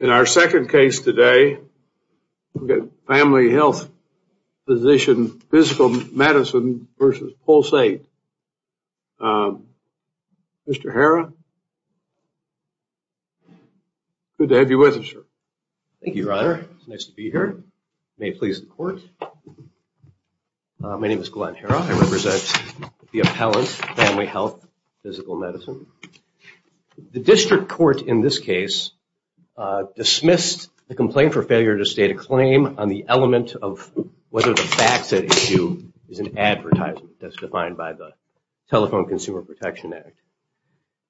In our second case today, we've got Family Health Physician Physical Medicine v. Pulse8. Mr. Herra, good to have you with us, sir. Thank you, Your Honor. It's nice to be here. May it please the Court. My name is Glenn Herra. I represent the appellant, Family Health Physical Medicine. The District Court in this case dismissed the complaint for failure to state a claim on the element of whether the facts at issue is an advertisement, as defined by the Telephone Consumer Protection Act.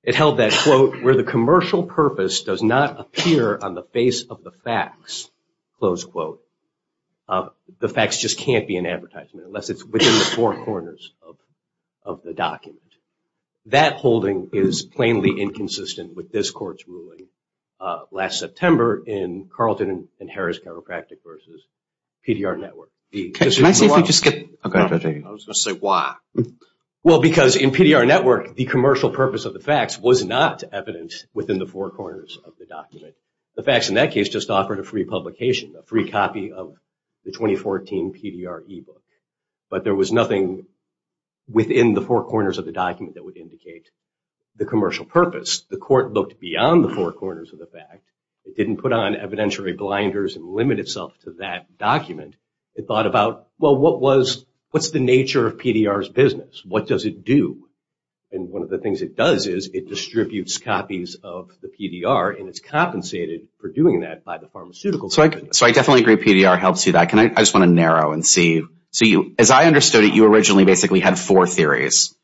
It held that, quote, where the commercial purpose does not appear on the face of the facts, close quote, the facts just can't be an advertisement unless it's within the four corners of the document. That holding is plainly inconsistent with this Court's ruling last September in Carlton and Herra's Chiropractic v. PDR Network. Can I see if you could skip? I was going to say why. Well, because in PDR Network, the commercial purpose of the facts was not evident within the four corners of the document. The facts in that case just offered a free publication, a free copy of the 2014 PDR e-book. But there was nothing within the four corners of the document that would indicate the commercial purpose. The Court looked beyond the four corners of the fact. It didn't put on evidentiary blinders and limit itself to that document. It thought about, well, what's the nature of PDR's business? What does it do? And one of the things it does is it distributes copies of the PDR, and it's compensated for doing that by the pharmaceutical company. So I definitely agree PDR helps you with that. I just want to narrow and see. As I understood it, you originally basically had four theories.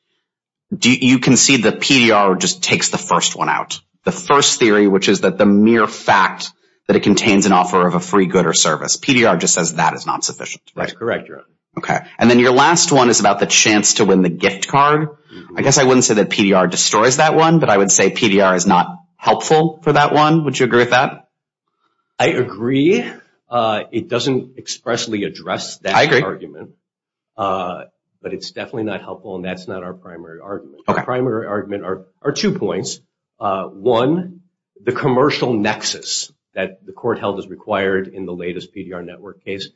You concede that PDR just takes the first one out, the first theory, which is that the mere fact that it contains an offer of a free good or service. PDR just says that is not sufficient. That's correct, Your Honor. And then your last one is about the chance to win the gift card. I guess I wouldn't say that PDR destroys that one, but I would say PDR is not helpful for that one. Would you agree with that? I agree. It doesn't expressly address that argument. I agree. But it's definitely not helpful, and that's not our primary argument. Okay. Our primary argument are two points. One, the commercial nexus that the court held is required in the latest PDR Network case.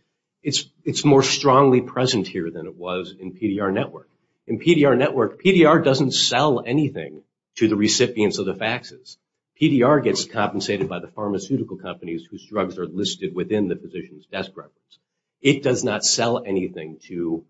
It's more strongly present here than it was in PDR Network. In PDR Network, PDR doesn't sell anything to the recipients of the faxes. PDR gets compensated by the pharmaceutical companies whose drugs are listed within the physician's desk records. It does not sell anything to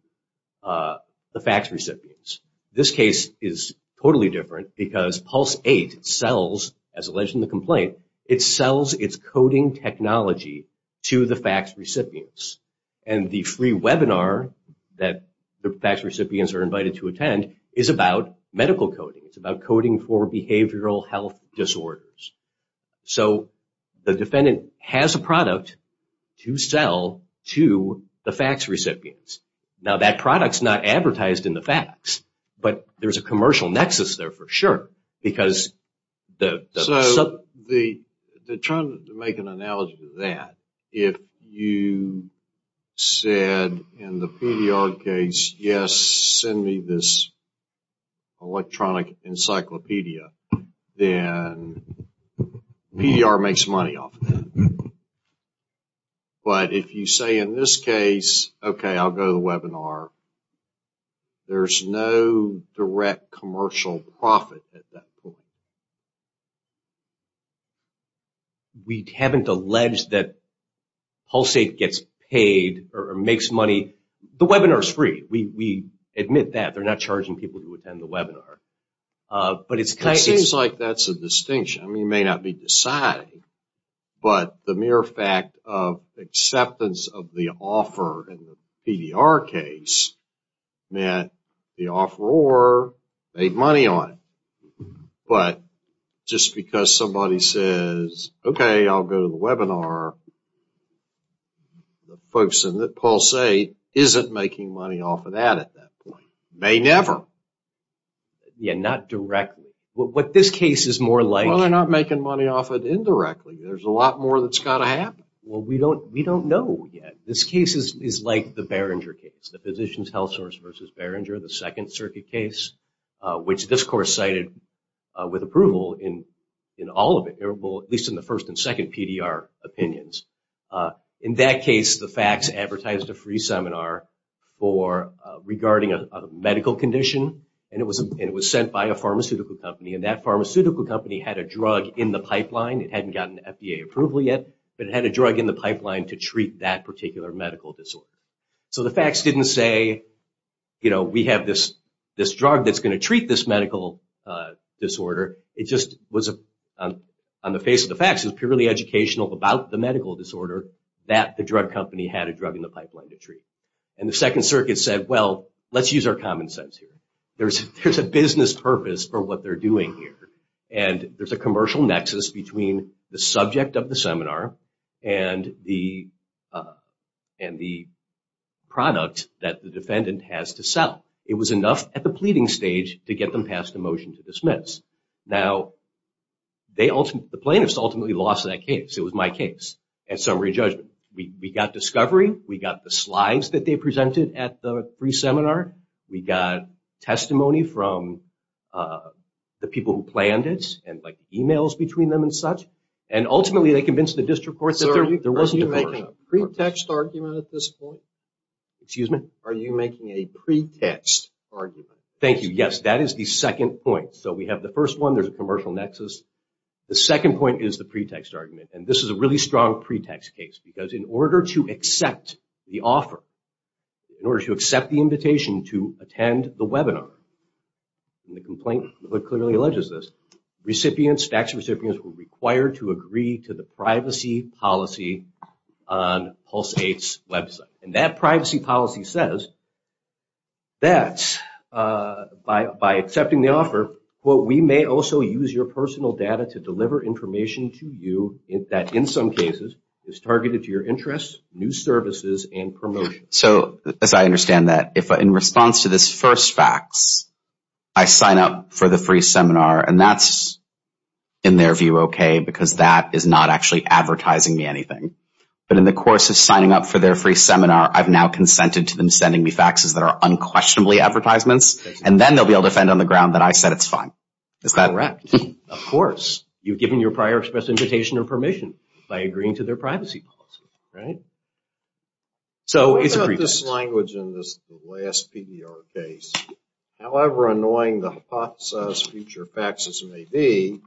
the fax recipients. This case is totally different because Pulse 8 sells, as alleged in the complaint, it sells its coding technology to the fax recipients. And the free webinar that the fax recipients are invited to attend is about medical coding. It's about coding for behavioral health disorders. So, the defendant has a product to sell to the fax recipients. Now, that product's not advertised in the fax, but there's a commercial nexus there for sure. So, they're trying to make an analogy to that. If you said in the PDR case, yes, send me this electronic encyclopedia, then PDR makes money off of that. But if you say in this case, okay, I'll go to the webinar, there's no direct commercial profit at that point. We haven't alleged that Pulse 8 gets paid or makes money. The webinar's free. We admit that. They're not charging people to attend the webinar. It seems like that's a distinction. I mean, it may not be decided, but the mere fact of acceptance of the offer in the PDR case meant the offeror made money on it. But just because somebody says, okay, I'll go to the webinar, the folks in Pulse 8 isn't making money off of that at that point. They never. Yeah, not directly. Well, they're not making money off of it indirectly. There's a lot more that's got to happen. Well, we don't know yet. This case is like the Behringer case, the Physicians Health Service versus Behringer, the Second Circuit case, which this court cited with approval in all of it, at least in the first and second PDR opinions. In that case, the fax advertised a free seminar regarding a medical condition, and it was sent by a pharmaceutical company, and that pharmaceutical company had a drug in the pipeline. It hadn't gotten FDA approval yet, but it had a drug in the pipeline to treat that particular medical disorder. So the fax didn't say, you know, we have this drug that's going to treat this medical disorder. It just was on the face of the fax. It was purely educational about the medical disorder that the drug company had a drug in the pipeline to treat. And the Second Circuit said, well, let's use our common sense here. There's a business purpose for what they're doing here, and there's a commercial nexus between the subject of the seminar and the product that the defendant has to sell. It was enough at the pleading stage to get them passed a motion to dismiss. Now, the plaintiffs ultimately lost that case. It was my case at summary judgment. We got discovery. We got the slides that they presented at the free seminar. We got testimony from the people who planned it and, like, e-mails between them and such, and ultimately they convinced the district court that there wasn't a commercial purpose. Are you making a pretext argument at this point? Excuse me? Are you making a pretext argument? Thank you. Yes, that is the second point. So we have the first one. There's a commercial nexus. The second point is the pretext argument, and this is a really strong pretext case because in order to accept the offer, in order to accept the invitation to attend the webinar, and the complaint clearly alleges this, recipients, tax recipients, were required to agree to the privacy policy on Pulse 8's website. And that privacy policy says that by accepting the offer, we may also use your personal data to deliver information to you that, in some cases, is targeted to your interests, new services, and promotion. So as I understand that, in response to this first fax, I sign up for the free seminar, and that's, in their view, okay because that is not actually advertising me anything. But in the course of signing up for their free seminar, I've now consented to them sending me faxes that are unquestionably advertisements, and then they'll be able to defend on the ground that I said it's fine. Is that correct? Of course. You've given your prior express invitation or permission by agreeing to their privacy policy, right? So it's a pretext. What about this language in this last PDR case? However annoying the hypothesized future faxes may be,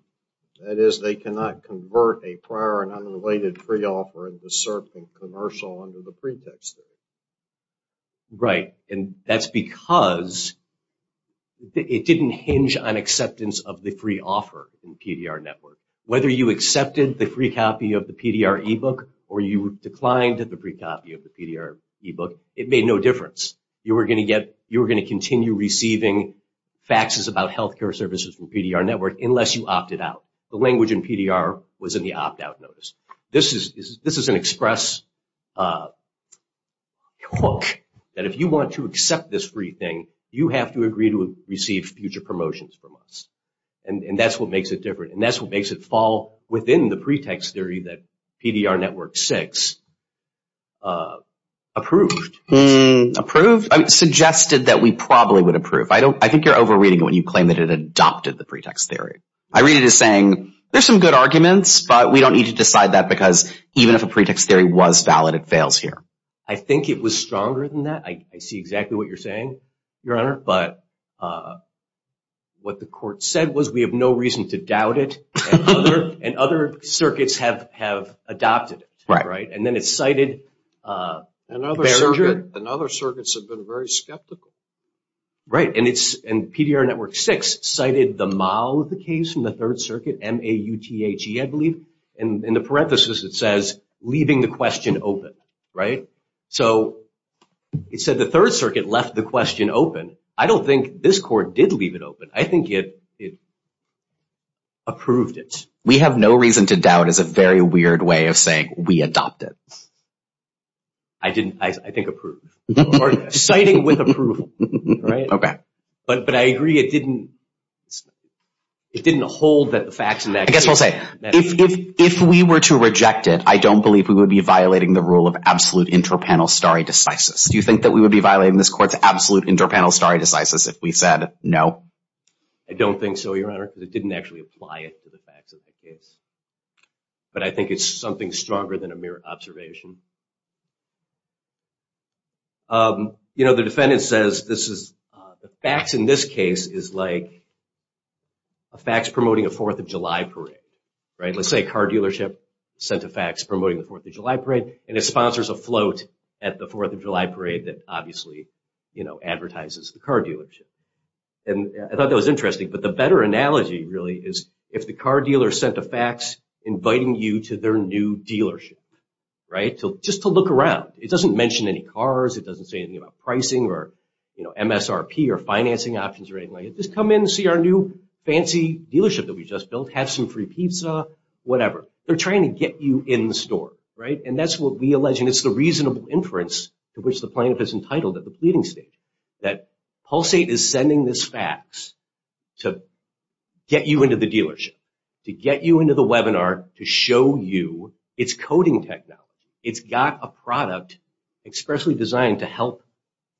that is they cannot convert a prior and unrelated free offer into certain commercial under the pretext of it. Right. And that's because it didn't hinge on acceptance of the free offer in the PDR network. Whether you accepted the free copy of the PDR e-book or you declined the free copy of the PDR e-book, it made no difference. You were going to continue receiving faxes about health care services from the PDR network unless you opted out. The language in PDR was in the opt-out notice. This is an express hook that if you want to accept this free thing, you have to agree to receive future promotions from us. And that's what makes it different. And that's what makes it fall within the pretext theory that PDR network 6 approved. Approved? Suggested that we probably would approve. I think you're over-reading it when you claim that it adopted the pretext theory. I read it as saying, there's some good arguments, but we don't need to decide that because even if a pretext theory was valid, it fails here. I think it was stronger than that. I see exactly what you're saying, Your Honor. But what the court said was we have no reason to doubt it. And other circuits have adopted it. And then it's cited. And other circuits have been very skeptical. Right. And PDR network 6 cited the mile of the case from the Third Circuit, MAUTHE, I believe. In the parenthesis it says, leaving the question open. Right? So it said the Third Circuit left the question open. I don't think this court did leave it open. I think it approved it. We have no reason to doubt is a very weird way of saying we adopted. I think approved. Citing with approval, right? Okay. But I agree it didn't hold the facts in that case. I guess I'll say, if we were to reject it, I don't believe we would be violating the rule of absolute inter-panel stare decisis. Do you think that we would be violating this court's absolute inter-panel stare decisis if we said no? I don't think so, Your Honor, because it didn't actually apply it to the facts of the case. But I think it's something stronger than a mere observation. You know, the defendant says the facts in this case is like a fax promoting a Fourth of July parade. Right? Let's say a car dealership sent a fax promoting the Fourth of July parade, and it sponsors a float at the Fourth of July parade that obviously, you know, advertises the car dealership. And I thought that was interesting. But the better analogy, really, is if the car dealer sent a fax inviting you to their new dealership, right? Just to look around. It doesn't mention any cars. It doesn't say anything about pricing or MSRP or financing options or anything like that. Just come in and see our new fancy dealership that we just built. Have some free pizza, whatever. They're trying to get you in the store, right? And that's what we allege, and it's the reasonable inference to which the plaintiff is entitled at the pleading stage, that Pulsate is sending this fax to get you into the dealership, to get you into the webinar, to show you it's coding technology. It's got a product expressly designed to help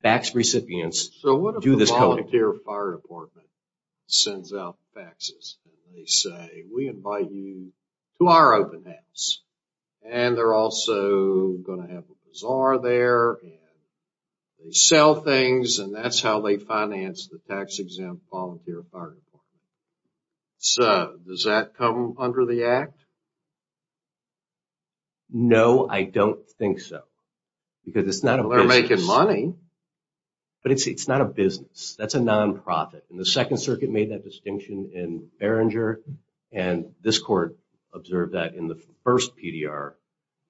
fax recipients do this coding. So what if the volunteer fire department sends out faxes and they say, We invite you to our open house. And they're also going to have a bazaar there, and they sell things, and that's how they finance the tax-exempt volunteer fire department. So does that come under the Act? No, I don't think so. Because it's not a business. They're making money. But it's not a business. That's a nonprofit. And the Second Circuit made that distinction in Behringer, and this court observed that in the first PDR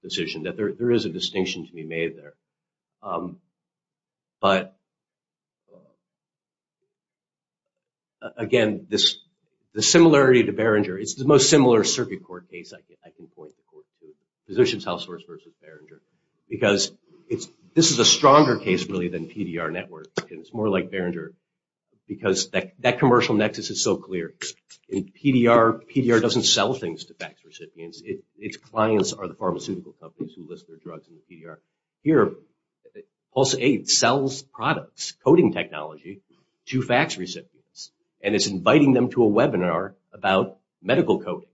decision, that there is a distinction to be made there. But, again, the similarity to Behringer, it's the most similar circuit court case I can point the court to, Physicians Households v. Behringer, because this is a stronger case, really, than PDR Network, and it's more like Behringer, because that commercial nexus is so clear. In PDR, PDR doesn't sell things to fax recipients. Its clients are the pharmaceutical companies who list their drugs in the PDR. Here, PulseAid sells products, coding technology, to fax recipients, and it's inviting them to a webinar about medical coding.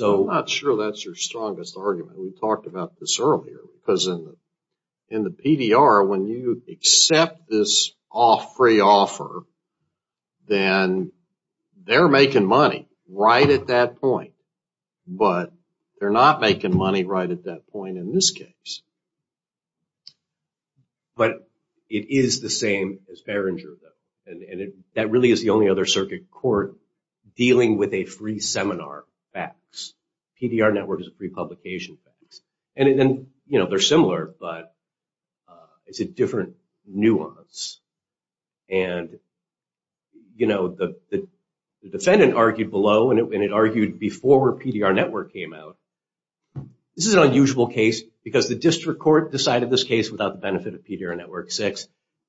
I'm not sure that's your strongest argument. We talked about this earlier, because in the PDR, when you accept this free offer, then they're making money right at that point, but they're not making money right at that point in this case. But it is the same as Behringer, and that really is the only other circuit court dealing with a free seminar fax. PDR Network is a free publication fax. And, you know, they're similar, but it's a different nuance. And, you know, the defendant argued below, and it argued before PDR Network came out. This is an unusual case, because the district court decided this case without the benefit of PDR Network VI.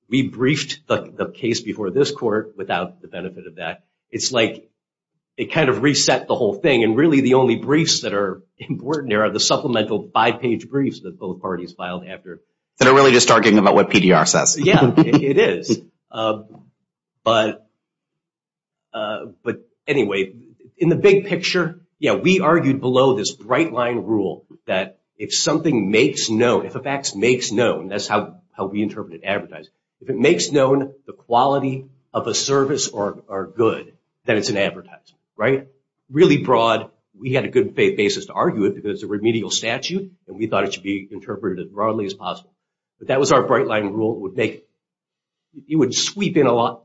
We briefed the case before this court without the benefit of that. It's like it kind of reset the whole thing. And really the only briefs that are important there are the supplemental five-page briefs that both parties filed after. They're really just arguing about what PDR says. Yeah, it is. But anyway, in the big picture, yeah, we argued below this bright-line rule that if something makes known, if a fax makes known, that's how we interpret it in advertising, if it makes known the quality of a service or good, then it's in advertising, right? Really broad, we had a good basis to argue it because it's a remedial statute, and we thought it should be interpreted as broadly as possible. But that was our bright-line rule. It would sweep in a lot.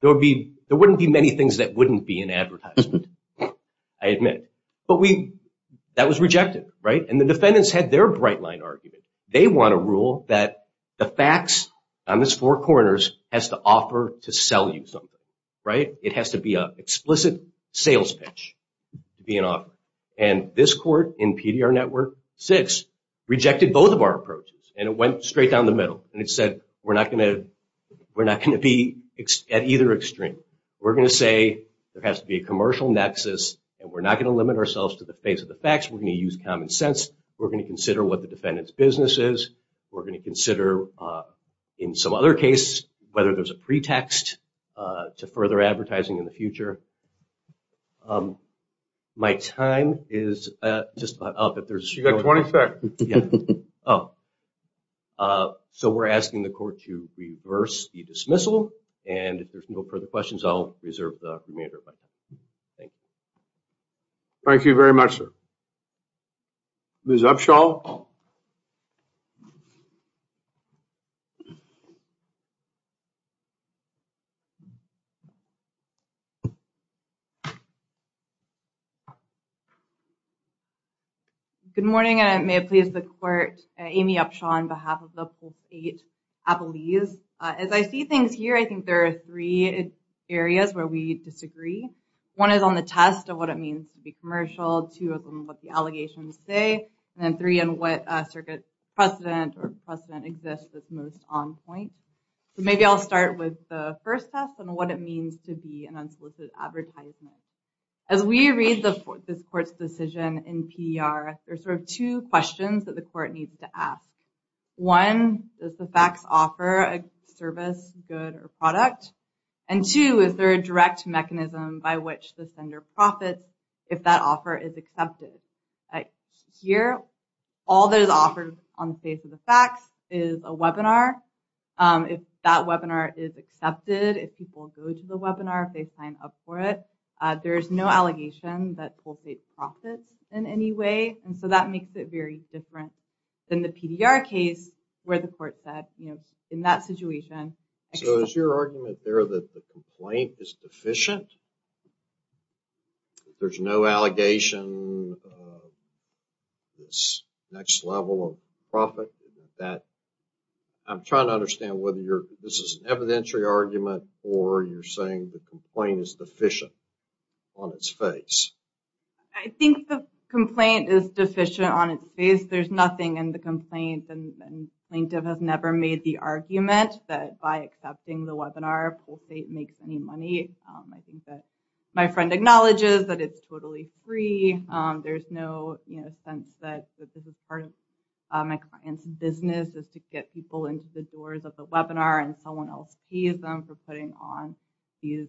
There wouldn't be many things that wouldn't be in advertisement, I admit. But that was rejected, right? And the defendants had their bright-line argument. They want to rule that the fax on this four corners has to offer to sell you something, right? It has to be an explicit sales pitch to be an offer. And this court in PDR Network 6 rejected both of our approaches, and it went straight down the middle, and it said we're not going to be at either extreme. We're going to say there has to be a commercial nexus, and we're not going to limit ourselves to the face of the fax. We're going to use common sense. We're going to consider what the defendant's business is. We're going to consider, in some other case, whether there's a pretext to further advertising in the future. My time is just about up. You've got 20 seconds. So we're asking the court to reverse the dismissal. And if there's no further questions, I'll reserve the remainder of my time. Thank you. Thank you very much, sir. Ms. Upshaw? Good morning, and may it please the court. Amy Upshaw on behalf of the 8th Appellees. As I see things here, I think there are three areas where we disagree. One is on the test of what it means to be commercial. Two is on what the allegations say. And then three, on what circuit precedent or precedent exists that's most on point. So maybe I'll start with the first test on what it means to be an unsolicited advertisement. As we read this court's decision in PER, there are sort of two questions that the court needs to ask. One, does the fax offer a service, good, or product? And two, is there a direct mechanism by which the sender profits if that offer is accepted? Here, all that is offered on the face of the fax is a webinar. If that webinar is accepted, if people go to the webinar, if they sign up for it, there is no allegation that pulsates profits in any way. And so that makes it very different than the PDR case where the court said, you know, in that situation. So is your argument there that the complaint is deficient? There's no allegation of this next level of profit? I'm trying to understand whether this is an evidentiary argument or you're saying the complaint is deficient on its face. I think the complaint is deficient on its face. There's nothing in the complaint. The plaintiff has never made the argument that by accepting the webinar, pulsate makes any money. I think that my friend acknowledges that it's totally free. There's no sense that this is part of my client's business is to get people into the doors of the webinar and someone else pays them for putting on these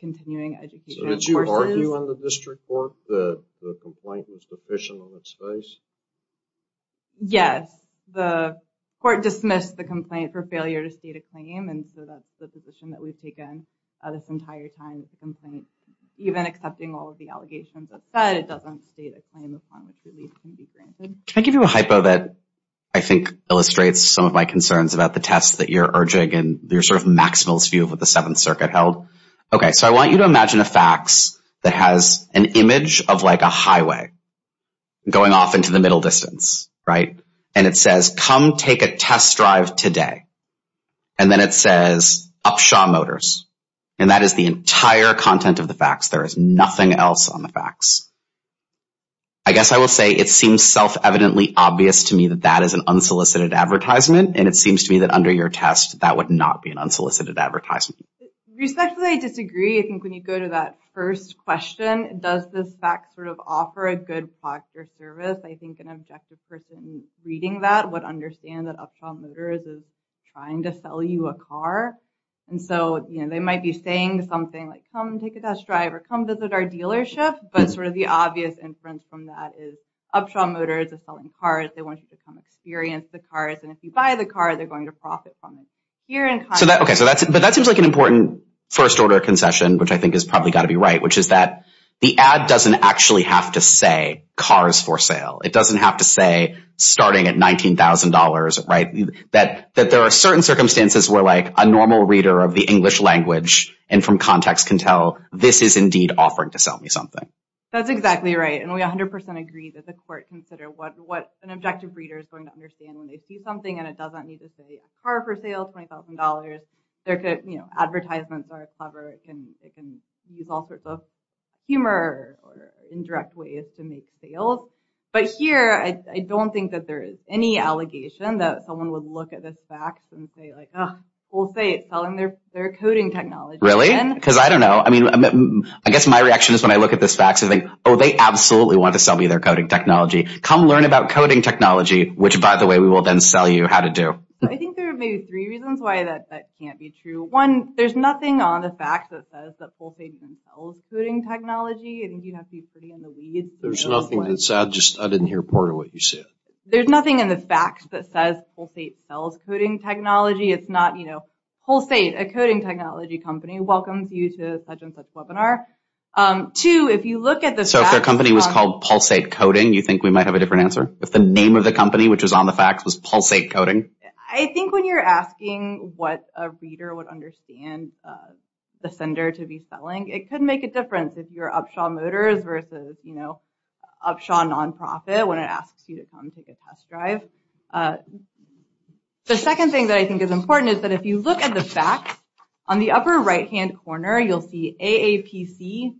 continuing education courses. So did you argue in the district court that the complaint was deficient on its face? Yes. The court dismissed the complaint for failure to state a claim. And so that's the position that we've taken this entire time is the complaint, even accepting all of the allegations that's said, it doesn't state a claim upon which relief can be granted. Can I give you a hypo that I think illustrates some of my concerns about the tests that you're urging and your sort of maximalist view of what the Seventh Circuit held? Okay. So I want you to imagine a fax that has an image of like a highway going off into the middle distance, right? And it says, come take a test drive today. And then it says, Upshaw Motors. And that is the entire content of the fax. There is nothing else on the fax. I guess I will say it seems self-evidently obvious to me that that is an unsolicited advertisement. And it seems to me that under your test, that would not be an unsolicited advertisement. Respectfully, I disagree. I think when you go to that first question, does this fax sort of offer a good product or service? I think an objective person reading that would understand that Upshaw Motors is trying to sell you a car. And so they might be saying something like, come take a test drive or come visit our dealership. But sort of the obvious inference from that is Upshaw Motors is selling cars. They want you to come experience the cars. And if you buy the car, they're going to profit from it. But that seems like an important first-order concession, which I think has probably got to be right, which is that the ad doesn't actually have to say cars for sale. It doesn't have to say starting at $19,000. That there are certain circumstances where a normal reader of the English language and from context can tell, this is indeed offering to sell me something. That's exactly right. And we 100% agree that the court can consider what an objective reader is going to understand when they see something and it doesn't need to say car for sale, $20,000. Advertisements are clever. It can use all sorts of humor or indirect ways to make sales. But here, I don't think that there is any allegation that someone would look at this fax and say, we'll say it's selling their coding technology. Really? Because I don't know. I mean, I guess my reaction is when I look at this fax, I think, oh, they absolutely want to sell me their coding technology. Come learn about coding technology, which, by the way, we will then sell you how to do. I think there are maybe three reasons why that can't be true. One, there's nothing on the fax that says that Pulsate even sells coding technology. I think you'd have to be pretty in the weeds. There's nothing in the fax. I didn't hear part of what you said. There's nothing in the fax that says Pulsate sells coding technology. It's not, you know, Pulsate, a coding technology company, welcomes you to such and such webinar. Two, if you look at the fax. So if their company was called Pulsate Coding, you think we might have a different answer? If the name of the company, which was on the fax, was Pulsate Coding? I think when you're asking what a reader would understand the sender to be selling, it could make a difference if you're Upshaw Motors versus, you know, Upshaw Nonprofit when it asks you to come take a test drive. The second thing that I think is important is that if you look at the fax, on the upper right-hand corner, you'll see AAPC,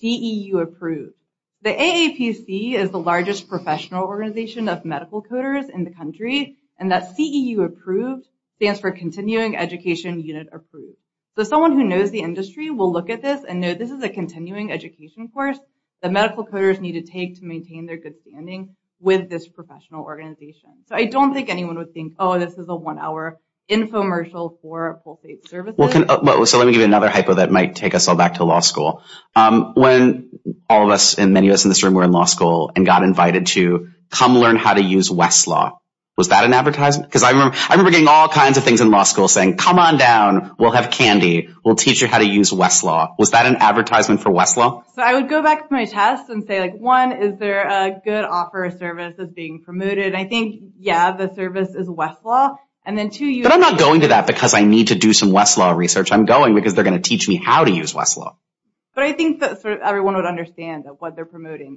CEU approved. The AAPC is the largest professional organization of medical coders in the country, and that CEU approved stands for Continuing Education Unit Approved. So someone who knows the industry will look at this and know this is a continuing education course that medical coders need to take to maintain their good standing with this professional organization. So I don't think anyone would think, oh, this is a one-hour infomercial for Pulsate Services. So let me give you another hypo that might take us all back to law school. When all of us, and many of us in this room were in law school, and got invited to come learn how to use Westlaw, was that an advertisement? Because I remember getting all kinds of things in law school saying, come on down, we'll have candy, we'll teach you how to use Westlaw. Was that an advertisement for Westlaw? So I would go back to my test and say, one, is there a good offer of service that's being promoted? And I think, yeah, the service is Westlaw. But I'm not going to that because I need to do some Westlaw research. I'm going because they're going to teach me how to use Westlaw. But I think that everyone would understand that what they're promoting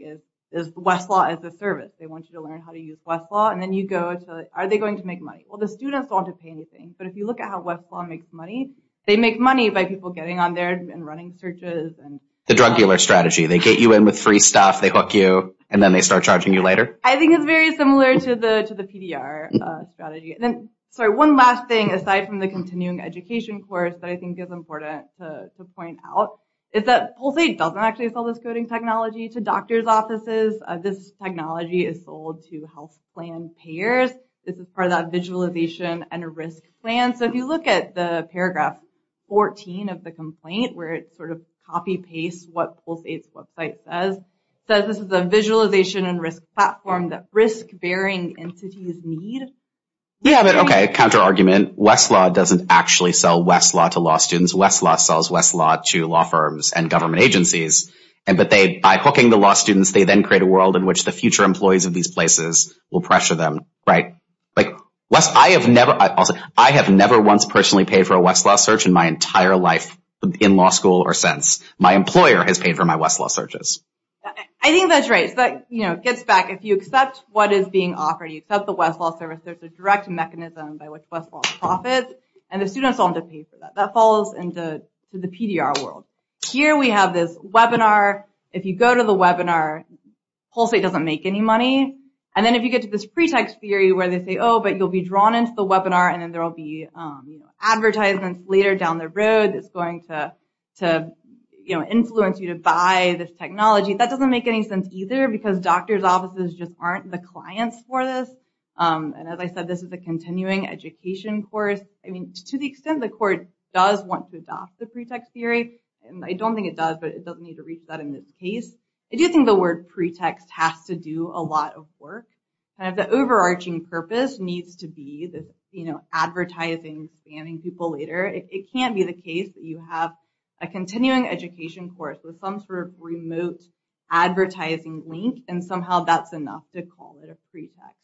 is Westlaw as a service. They want you to learn how to use Westlaw, and then you go to, are they going to make money? Well, the students don't have to pay anything, but if you look at how Westlaw makes money, they make money by people getting on there and running searches. The drug dealer strategy. They get you in with free stuff, they hook you, and then they start charging you later? I think it's very similar to the PDR strategy. And then, sorry, one last thing aside from the continuing education course that I think is important to point out is that Pulsate doesn't actually sell this coding technology to doctor's offices. This technology is sold to health plan payers. This is part of that visualization and risk plan. So if you look at the paragraph 14 of the complaint where it sort of copy-pastes what Pulsate's website says, it says this is a visualization and risk platform that risk-bearing entities need. Yeah, but okay, counter-argument. Westlaw doesn't actually sell Westlaw to law students. Westlaw sells Westlaw to law firms and government agencies, but by hooking the law students, they then create a world in which the future employees of these places will pressure them. Right? I have never once personally paid for a Westlaw search in my entire life in law school or since. My employer has paid for my Westlaw searches. I think that's right. So that gets back. If you accept what is being offered, you accept the Westlaw service, there's a direct mechanism by which Westlaw profits, and the students don't have to pay for that. That follows into the PDR world. Here we have this webinar. If you go to the webinar, Pulsate doesn't make any money. And then if you get to this pretext theory where they say, oh, but you'll be drawn into the webinar, and then there will be advertisements later down the road that's going to influence you to buy this technology, that doesn't make any sense either because doctor's offices just aren't the clients for this. And as I said, this is a continuing education course. I mean, to the extent the court does want to adopt the pretext theory, and I don't think it does, but it doesn't need to reach that in this case, I do think the word pretext has to do a lot of work. Kind of the overarching purpose needs to be this, you know, advertising banning people later. It can't be the case that you have a continuing education course with some sort of remote advertising link, and somehow that's enough to call it a pretext.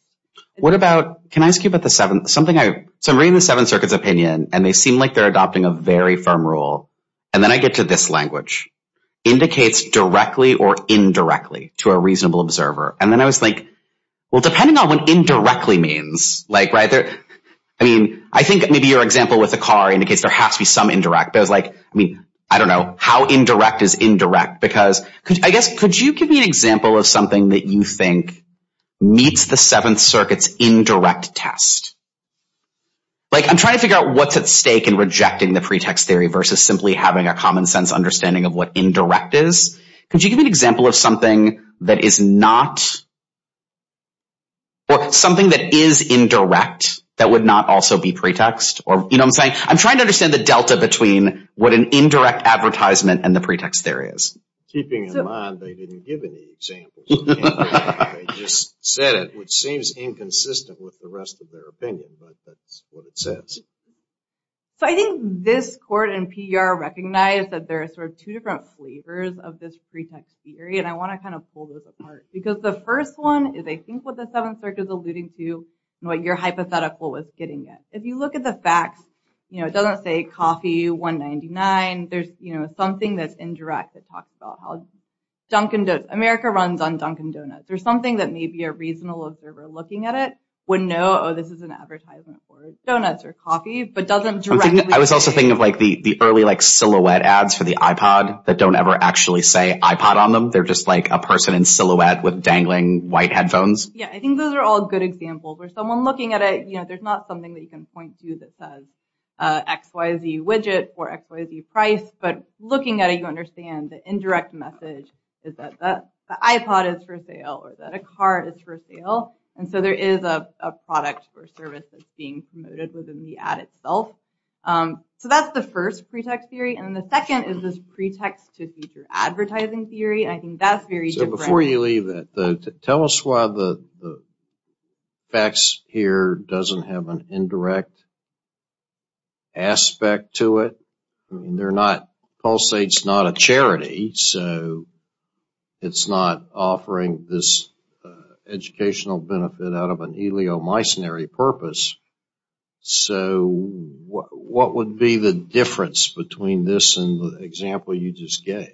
What about, can I ask you about the seven, something I, so I'm reading the seven circuits opinion, and they seem like they're adopting a very firm rule, and then I get to this language. Indicates directly or indirectly to a reasonable observer. And then I was like, well, depending on what indirectly means, like right there, I mean, I think maybe your example with the car indicates there has to be some indirect. But I was like, I mean, I don't know how indirect is indirect because I guess, could you give me an example of something that you think meets the seventh circuits indirect test? Like I'm trying to figure out what's at stake in rejecting the pretext theory versus simply having a common sense understanding of what indirect is. Could you give me an example of something that is not, or something that is indirect that would not also be pretext or, you know what I'm saying? I'm trying to understand the delta between what an indirect advertisement and the pretext theory is. Keeping in mind they didn't give any examples. They just said it, which seems inconsistent with the rest of their opinion, but that's what it says. So I think this court and PR recognize that there are sort of two different flavors of this pretext theory. And I want to kind of pull those apart because the first one is, I think, what the seventh circuit is alluding to and what your hypothetical was getting at. If you look at the facts, you know, it doesn't say coffee, $1.99. There's something that's indirect that talks about how Dunkin' Donuts, America runs on Dunkin' Donuts. There's something that maybe a reasonable observer looking at it would know, oh, this is an advertisement for donuts or coffee, but doesn't directly say it. I was also thinking of like the early like silhouette ads for the iPod that don't ever actually say iPod on them. They're just like a person in silhouette with dangling white headphones. Yeah, I think those are all good examples where someone looking at it, you know, there's not something that you can point to that says XYZ widget or XYZ price. But looking at it, you understand the indirect message is that the iPod is for sale or that a car is for sale. And so there is a product or service that's being promoted within the ad itself. So that's the first pretext theory. And the second is this pretext to future advertising theory. I think that's very different. So before you leave that, tell us why the facts here doesn't have an indirect aspect to it. Pulsate's not a charity, so it's not offering this educational benefit out of an ileomycinary purpose. So what would be the difference between this and the example you just gave?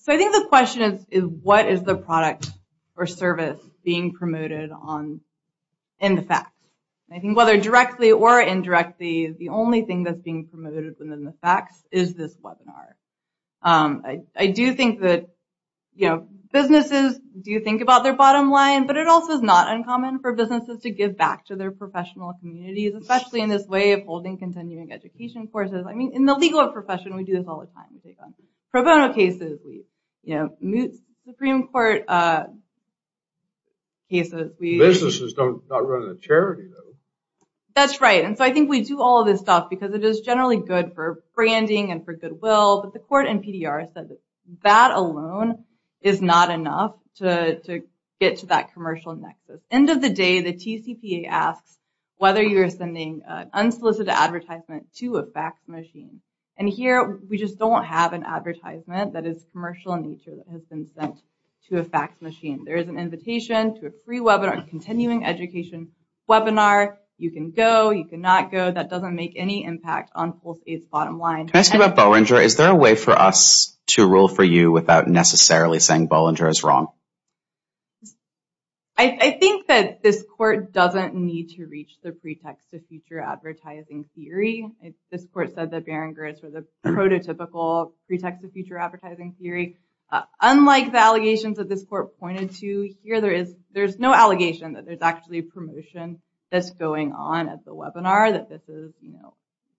So I think the question is what is the product or service being promoted in the facts? I think whether directly or indirectly, the only thing that's being promoted within the facts is this webinar. I do think that, you know, businesses do think about their bottom line, but it also is not uncommon for businesses to give back to their professional communities, especially in this way of holding continuing education courses. I mean, in the legal profession, we do this all the time. We take on pro bono cases. We, you know, moot Supreme Court cases. Businesses don't run a charity, though. That's right. And so I think we do all of this stuff because it is generally good for branding and for goodwill, but the court in PDR said that that alone is not enough to get to that commercial nexus. End of the day, the TCPA asks whether you're sending unsolicited advertisement to a fax machine. And here, we just don't have an advertisement that is commercial in nature that has been sent to a fax machine. There is an invitation to a free webinar, a continuing education webinar. You can go. You cannot go. That doesn't make any impact on Full State's bottom line. Can I ask you about Bollinger? Is there a way for us to rule for you without necessarily saying Bollinger is wrong? I think that this court doesn't need to reach the pretext of future advertising theory. This court said that Beringers were the prototypical pretext of future advertising theory. Unlike the allegations that this court pointed to, here there is no allegation that there's actually a promotion that's going on at the webinar, that this is an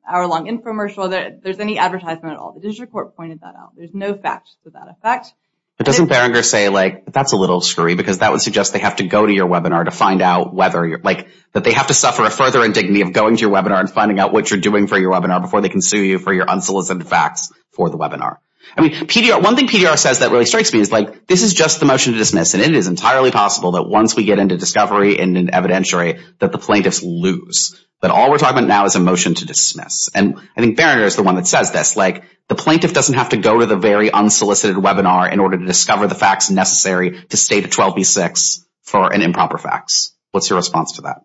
hour-long infomercial, that there's any advertisement at all. The district court pointed that out. There's no facts to that effect. But doesn't Beringer say, like, that's a little screwy because that would suggest they have to go to your webinar to find out whether you're, like, that they have to suffer a further indignity of going to your webinar and finding out what you're doing for your webinar before they can sue you for your unsolicited fax for the webinar. I mean, one thing PDR says that really strikes me is, like, this is just the motion to dismiss, and it is entirely possible that once we get into discovery and evidentiary that the plaintiffs lose, that all we're talking about now is a motion to dismiss. And I think Beringer is the one that says this, like, the plaintiff doesn't have to go to the very unsolicited webinar in order to discover the facts necessary to state a 12b-6 for an improper fax. What's your response to that?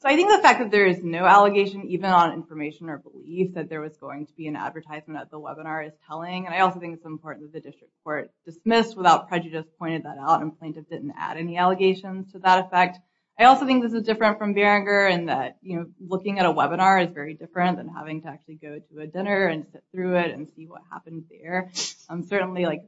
So I think the fact that there is no allegation, even on information or belief, that there was going to be an advertisement at the webinar is telling. And I also think it's important that the district court dismissed without prejudice, pointed that out, and plaintiffs didn't add any allegations to that effect. I also think this is different from Beringer in that, you know, looking at a webinar is very different than having to actually go to a dinner and sit through it and see what happens there. And certainly, like,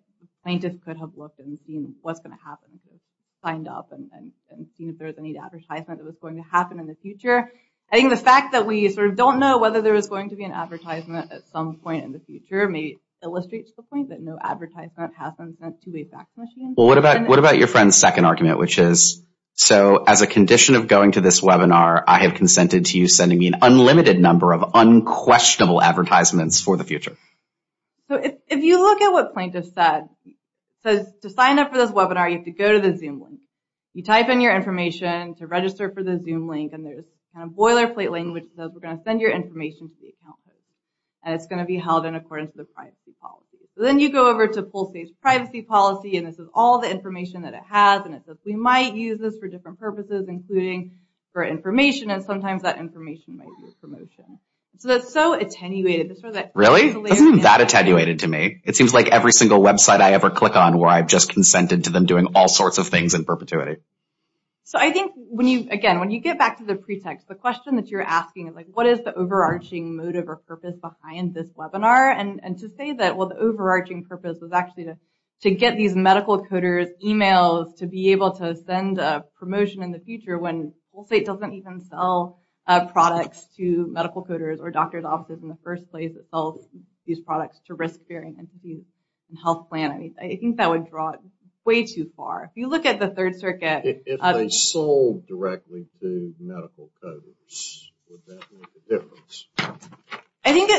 plaintiffs could have looked and seen what's going to happen if they signed up and seen if there was any advertisement that was going to happen in the future. I think the fact that we sort of don't know whether there was going to be an advertisement at some point in the future maybe illustrates the point that no advertisement has been sent to a fax machine. Well, what about your friend's second argument, which is, so as a condition of going to this webinar, I have consented to you sending me an unlimited number of unquestionable advertisements for the future? So if you look at what plaintiffs said, it says to sign up for this webinar, you have to go to the Zoom link. You type in your information to register for the Zoom link, and there's a kind of boilerplate language that says we're going to send your information to the account holder. And it's going to be held in accordance with the privacy policy. So then you go over to Pulse's privacy policy, and this is all the information that it has, and it says we might use this for different purposes, including for information, and sometimes that information might be a promotion. So that's so attenuated. Really? It doesn't seem that attenuated to me. It seems like every single website I ever click on where I've just consented to them doing all sorts of things in perpetuity. So I think, again, when you get back to the pretext, the question that you're asking is, like, what is the overarching motive or purpose behind this webinar? And to say that, well, the overarching purpose was actually to get these medical coders' e-mails to be able to send a promotion in the future when Pulse 8 doesn't even sell products to medical coders or doctors' offices in the first place. It sells these products to risk-bearing entities and health plan entities. I think that would draw it way too far. If you look at the Third Circuit. If they sold directly to medical coders, would that make a difference? I think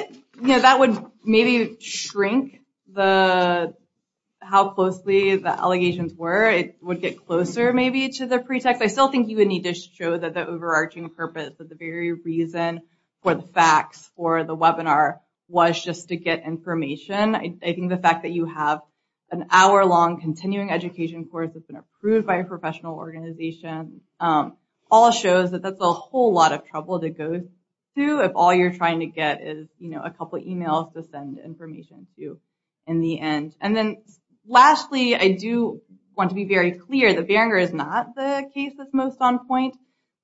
that would maybe shrink how closely the allegations were. It would get closer, maybe, to the pretext. I still think you would need to show that the overarching purpose or the very reason for the facts for the webinar was just to get information. I think the fact that you have an hour-long continuing education course that's been approved by a professional organization all shows that that's a whole lot of trouble to go through if all you're trying to get is, you know, a couple of e-mails to send information to in the end. Lastly, I do want to be very clear. The Beringer is not the case that's most on point.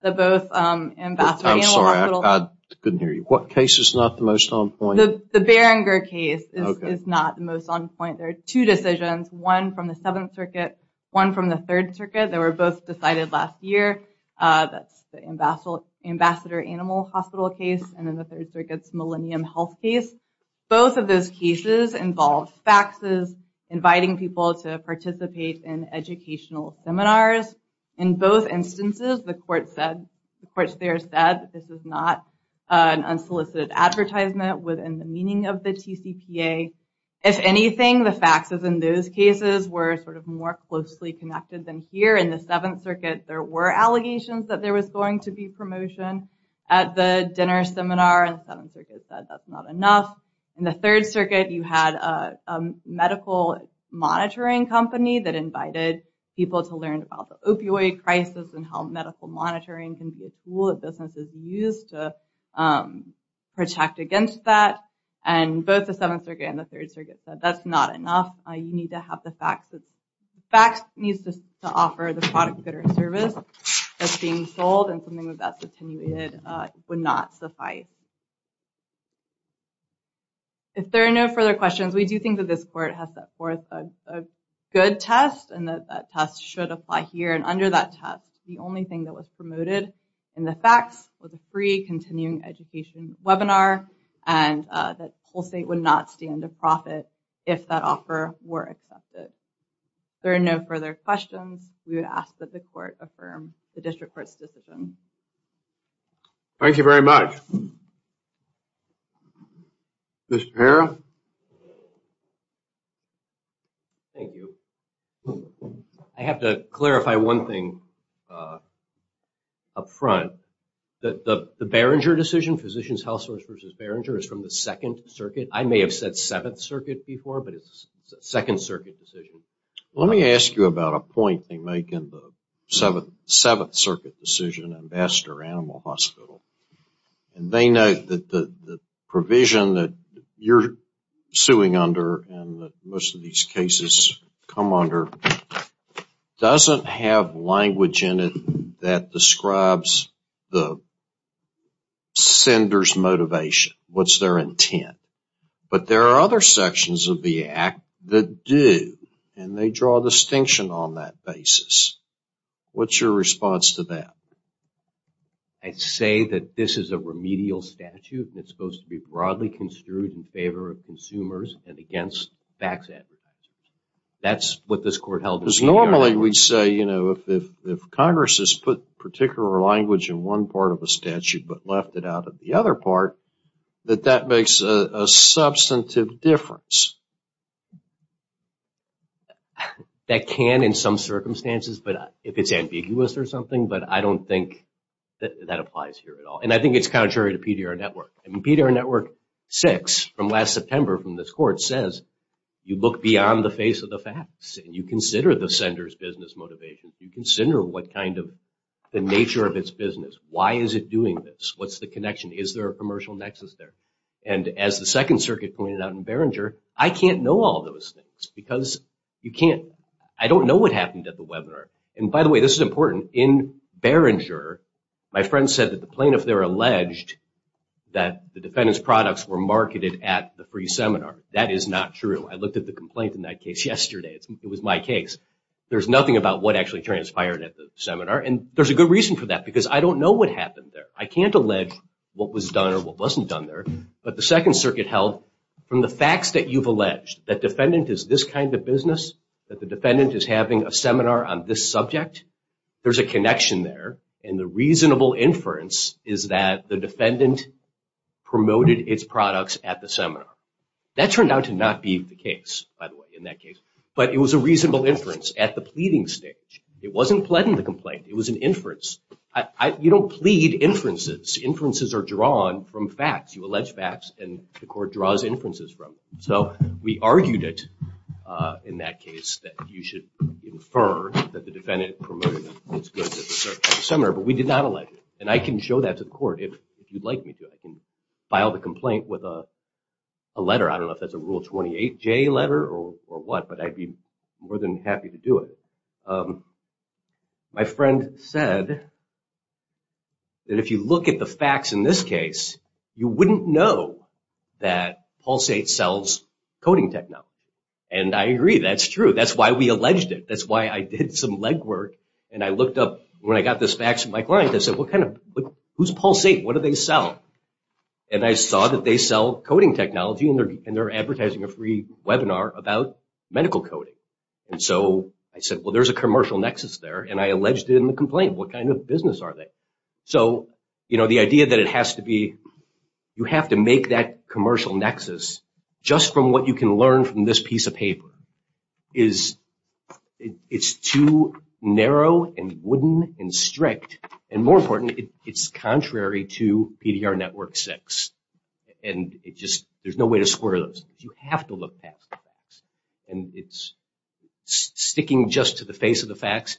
I'm sorry, I couldn't hear you. What case is not the most on point? The Beringer case is not the most on point. There are two decisions, one from the Seventh Circuit, one from the Third Circuit. They were both decided last year. That's the Ambassador Animal Hospital case, and then the Third Circuit's Millennium Health case. Both of those cases involved faxes, inviting people to participate in educational seminars. In both instances, the courts there said this is not an unsolicited advertisement within the meaning of the TCPA. If anything, the faxes in those cases were sort of more closely connected than here. In the Seventh Circuit, there were allegations that there was going to be promotion at the dinner seminar, and the Seventh Circuit said that's not enough. In the Third Circuit, you had a medical monitoring company that invited people to learn about the opioid crisis and how medical monitoring can be a tool that businesses use to protect against that. And both the Seventh Circuit and the Third Circuit said that's not enough. You need to have the faxes. The fax needs to offer the product, good, or service that's being sold, and something that's attenuated would not suffice. If there are no further questions, we do think that this court has set forth a good test, and that that test should apply here. And under that test, the only thing that was promoted in the fax was a free continuing education webinar, and that Pulsate would not stand to profit if that offer were accepted. If there are no further questions, we would ask that the court affirm the district court's decision. Thank you very much. Mr. Perra? Thank you. I have to clarify one thing up front. The Beringer decision, Physicians Health Service versus Beringer, is from the Second Circuit. I may have said Seventh Circuit before, but it's a Second Circuit decision. Let me ask you about a point they make in the Seventh Circuit decision, Ambassador Animal Hospital. And they note that the provision that you're suing under and that most of these cases come under doesn't have language in it that describes the sender's motivation, what's their intent. But there are other sections of the act that do, and they draw a distinction on that basis. What's your response to that? I'd say that this is a remedial statute, and it's supposed to be broadly construed in favor of consumers and against fax advertisers. That's what this court held. Because normally we'd say, you know, if Congress has put particular language in one part of the statute but left it out of the other part, that that makes a substantive difference. That can in some circumstances, but if it's ambiguous or something, but I don't think that applies here at all. And I think it's contrary to PDR Network. I mean, PDR Network 6 from last September from this court says you look beyond the face of the fax and you consider the sender's business motivation. You consider what kind of the nature of its business. Why is it doing this? What's the connection? Is there a commercial nexus there? And as the Second Circuit pointed out in Behringer, I can't know all those things because you can't. I don't know what happened at the webinar. And by the way, this is important. In Behringer, my friend said that the plaintiff there alleged that the defendant's products were marketed at the free seminar. That is not true. I looked at the complaint in that case yesterday. It was my case. There's nothing about what actually transpired at the seminar. And there's a good reason for that because I don't know what happened there. I can't allege what was done or what wasn't done there. But the Second Circuit held from the facts that you've alleged, that defendant is this kind of business, that the defendant is having a seminar on this subject. There's a connection there. And the reasonable inference is that the defendant promoted its products at the seminar. That turned out to not be the case, by the way, in that case. But it was a reasonable inference at the pleading stage. It wasn't pled in the complaint. It was an inference. You don't plead inferences. Inferences are drawn from facts. You allege facts and the court draws inferences from them. So we argued it in that case that you should infer that the defendant promoted its goods at the seminar. But we did not allege it. And I can show that to the court if you'd like me to. I can file the complaint with a letter. I don't know if that's a Rule 28J letter or what, but I'd be more than happy to do it. My friend said that if you look at the facts in this case, you wouldn't know that Pulsate sells coding technology. And I agree. That's true. That's why we alleged it. That's why I did some legwork. And I looked up, when I got this fax from my client, I said, who's Pulsate? What do they sell? And I saw that they sell coding technology, and they're advertising a free webinar about medical coding. And so I said, well, there's a commercial nexus there. And I alleged it in the complaint. What kind of business are they? So, you know, the idea that it has to be, you have to make that commercial nexus just from what you can learn from this piece of paper. It's too narrow and wooden and strict. And more important, it's contrary to PDR Network 6. And it just, there's no way to square those. You have to look past the facts. And it's sticking just to the face of the facts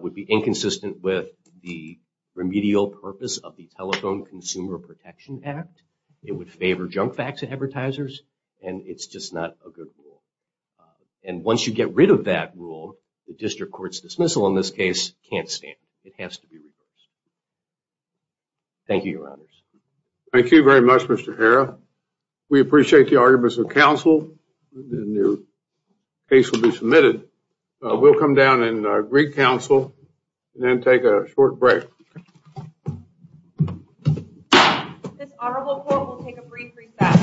would be inconsistent with the remedial purpose of the Telephone Consumer Protection Act. It would favor junk fax advertisers, and it's just not a good rule. And once you get rid of that rule, the district court's dismissal in this case can't stand. It has to be reversed. Thank you, Your Honors. Thank you very much, Mr. Harrah. We appreciate the arguments of counsel. And your case will be submitted. We'll come down and greet counsel and then take a short break. This honorable court will take a brief recess.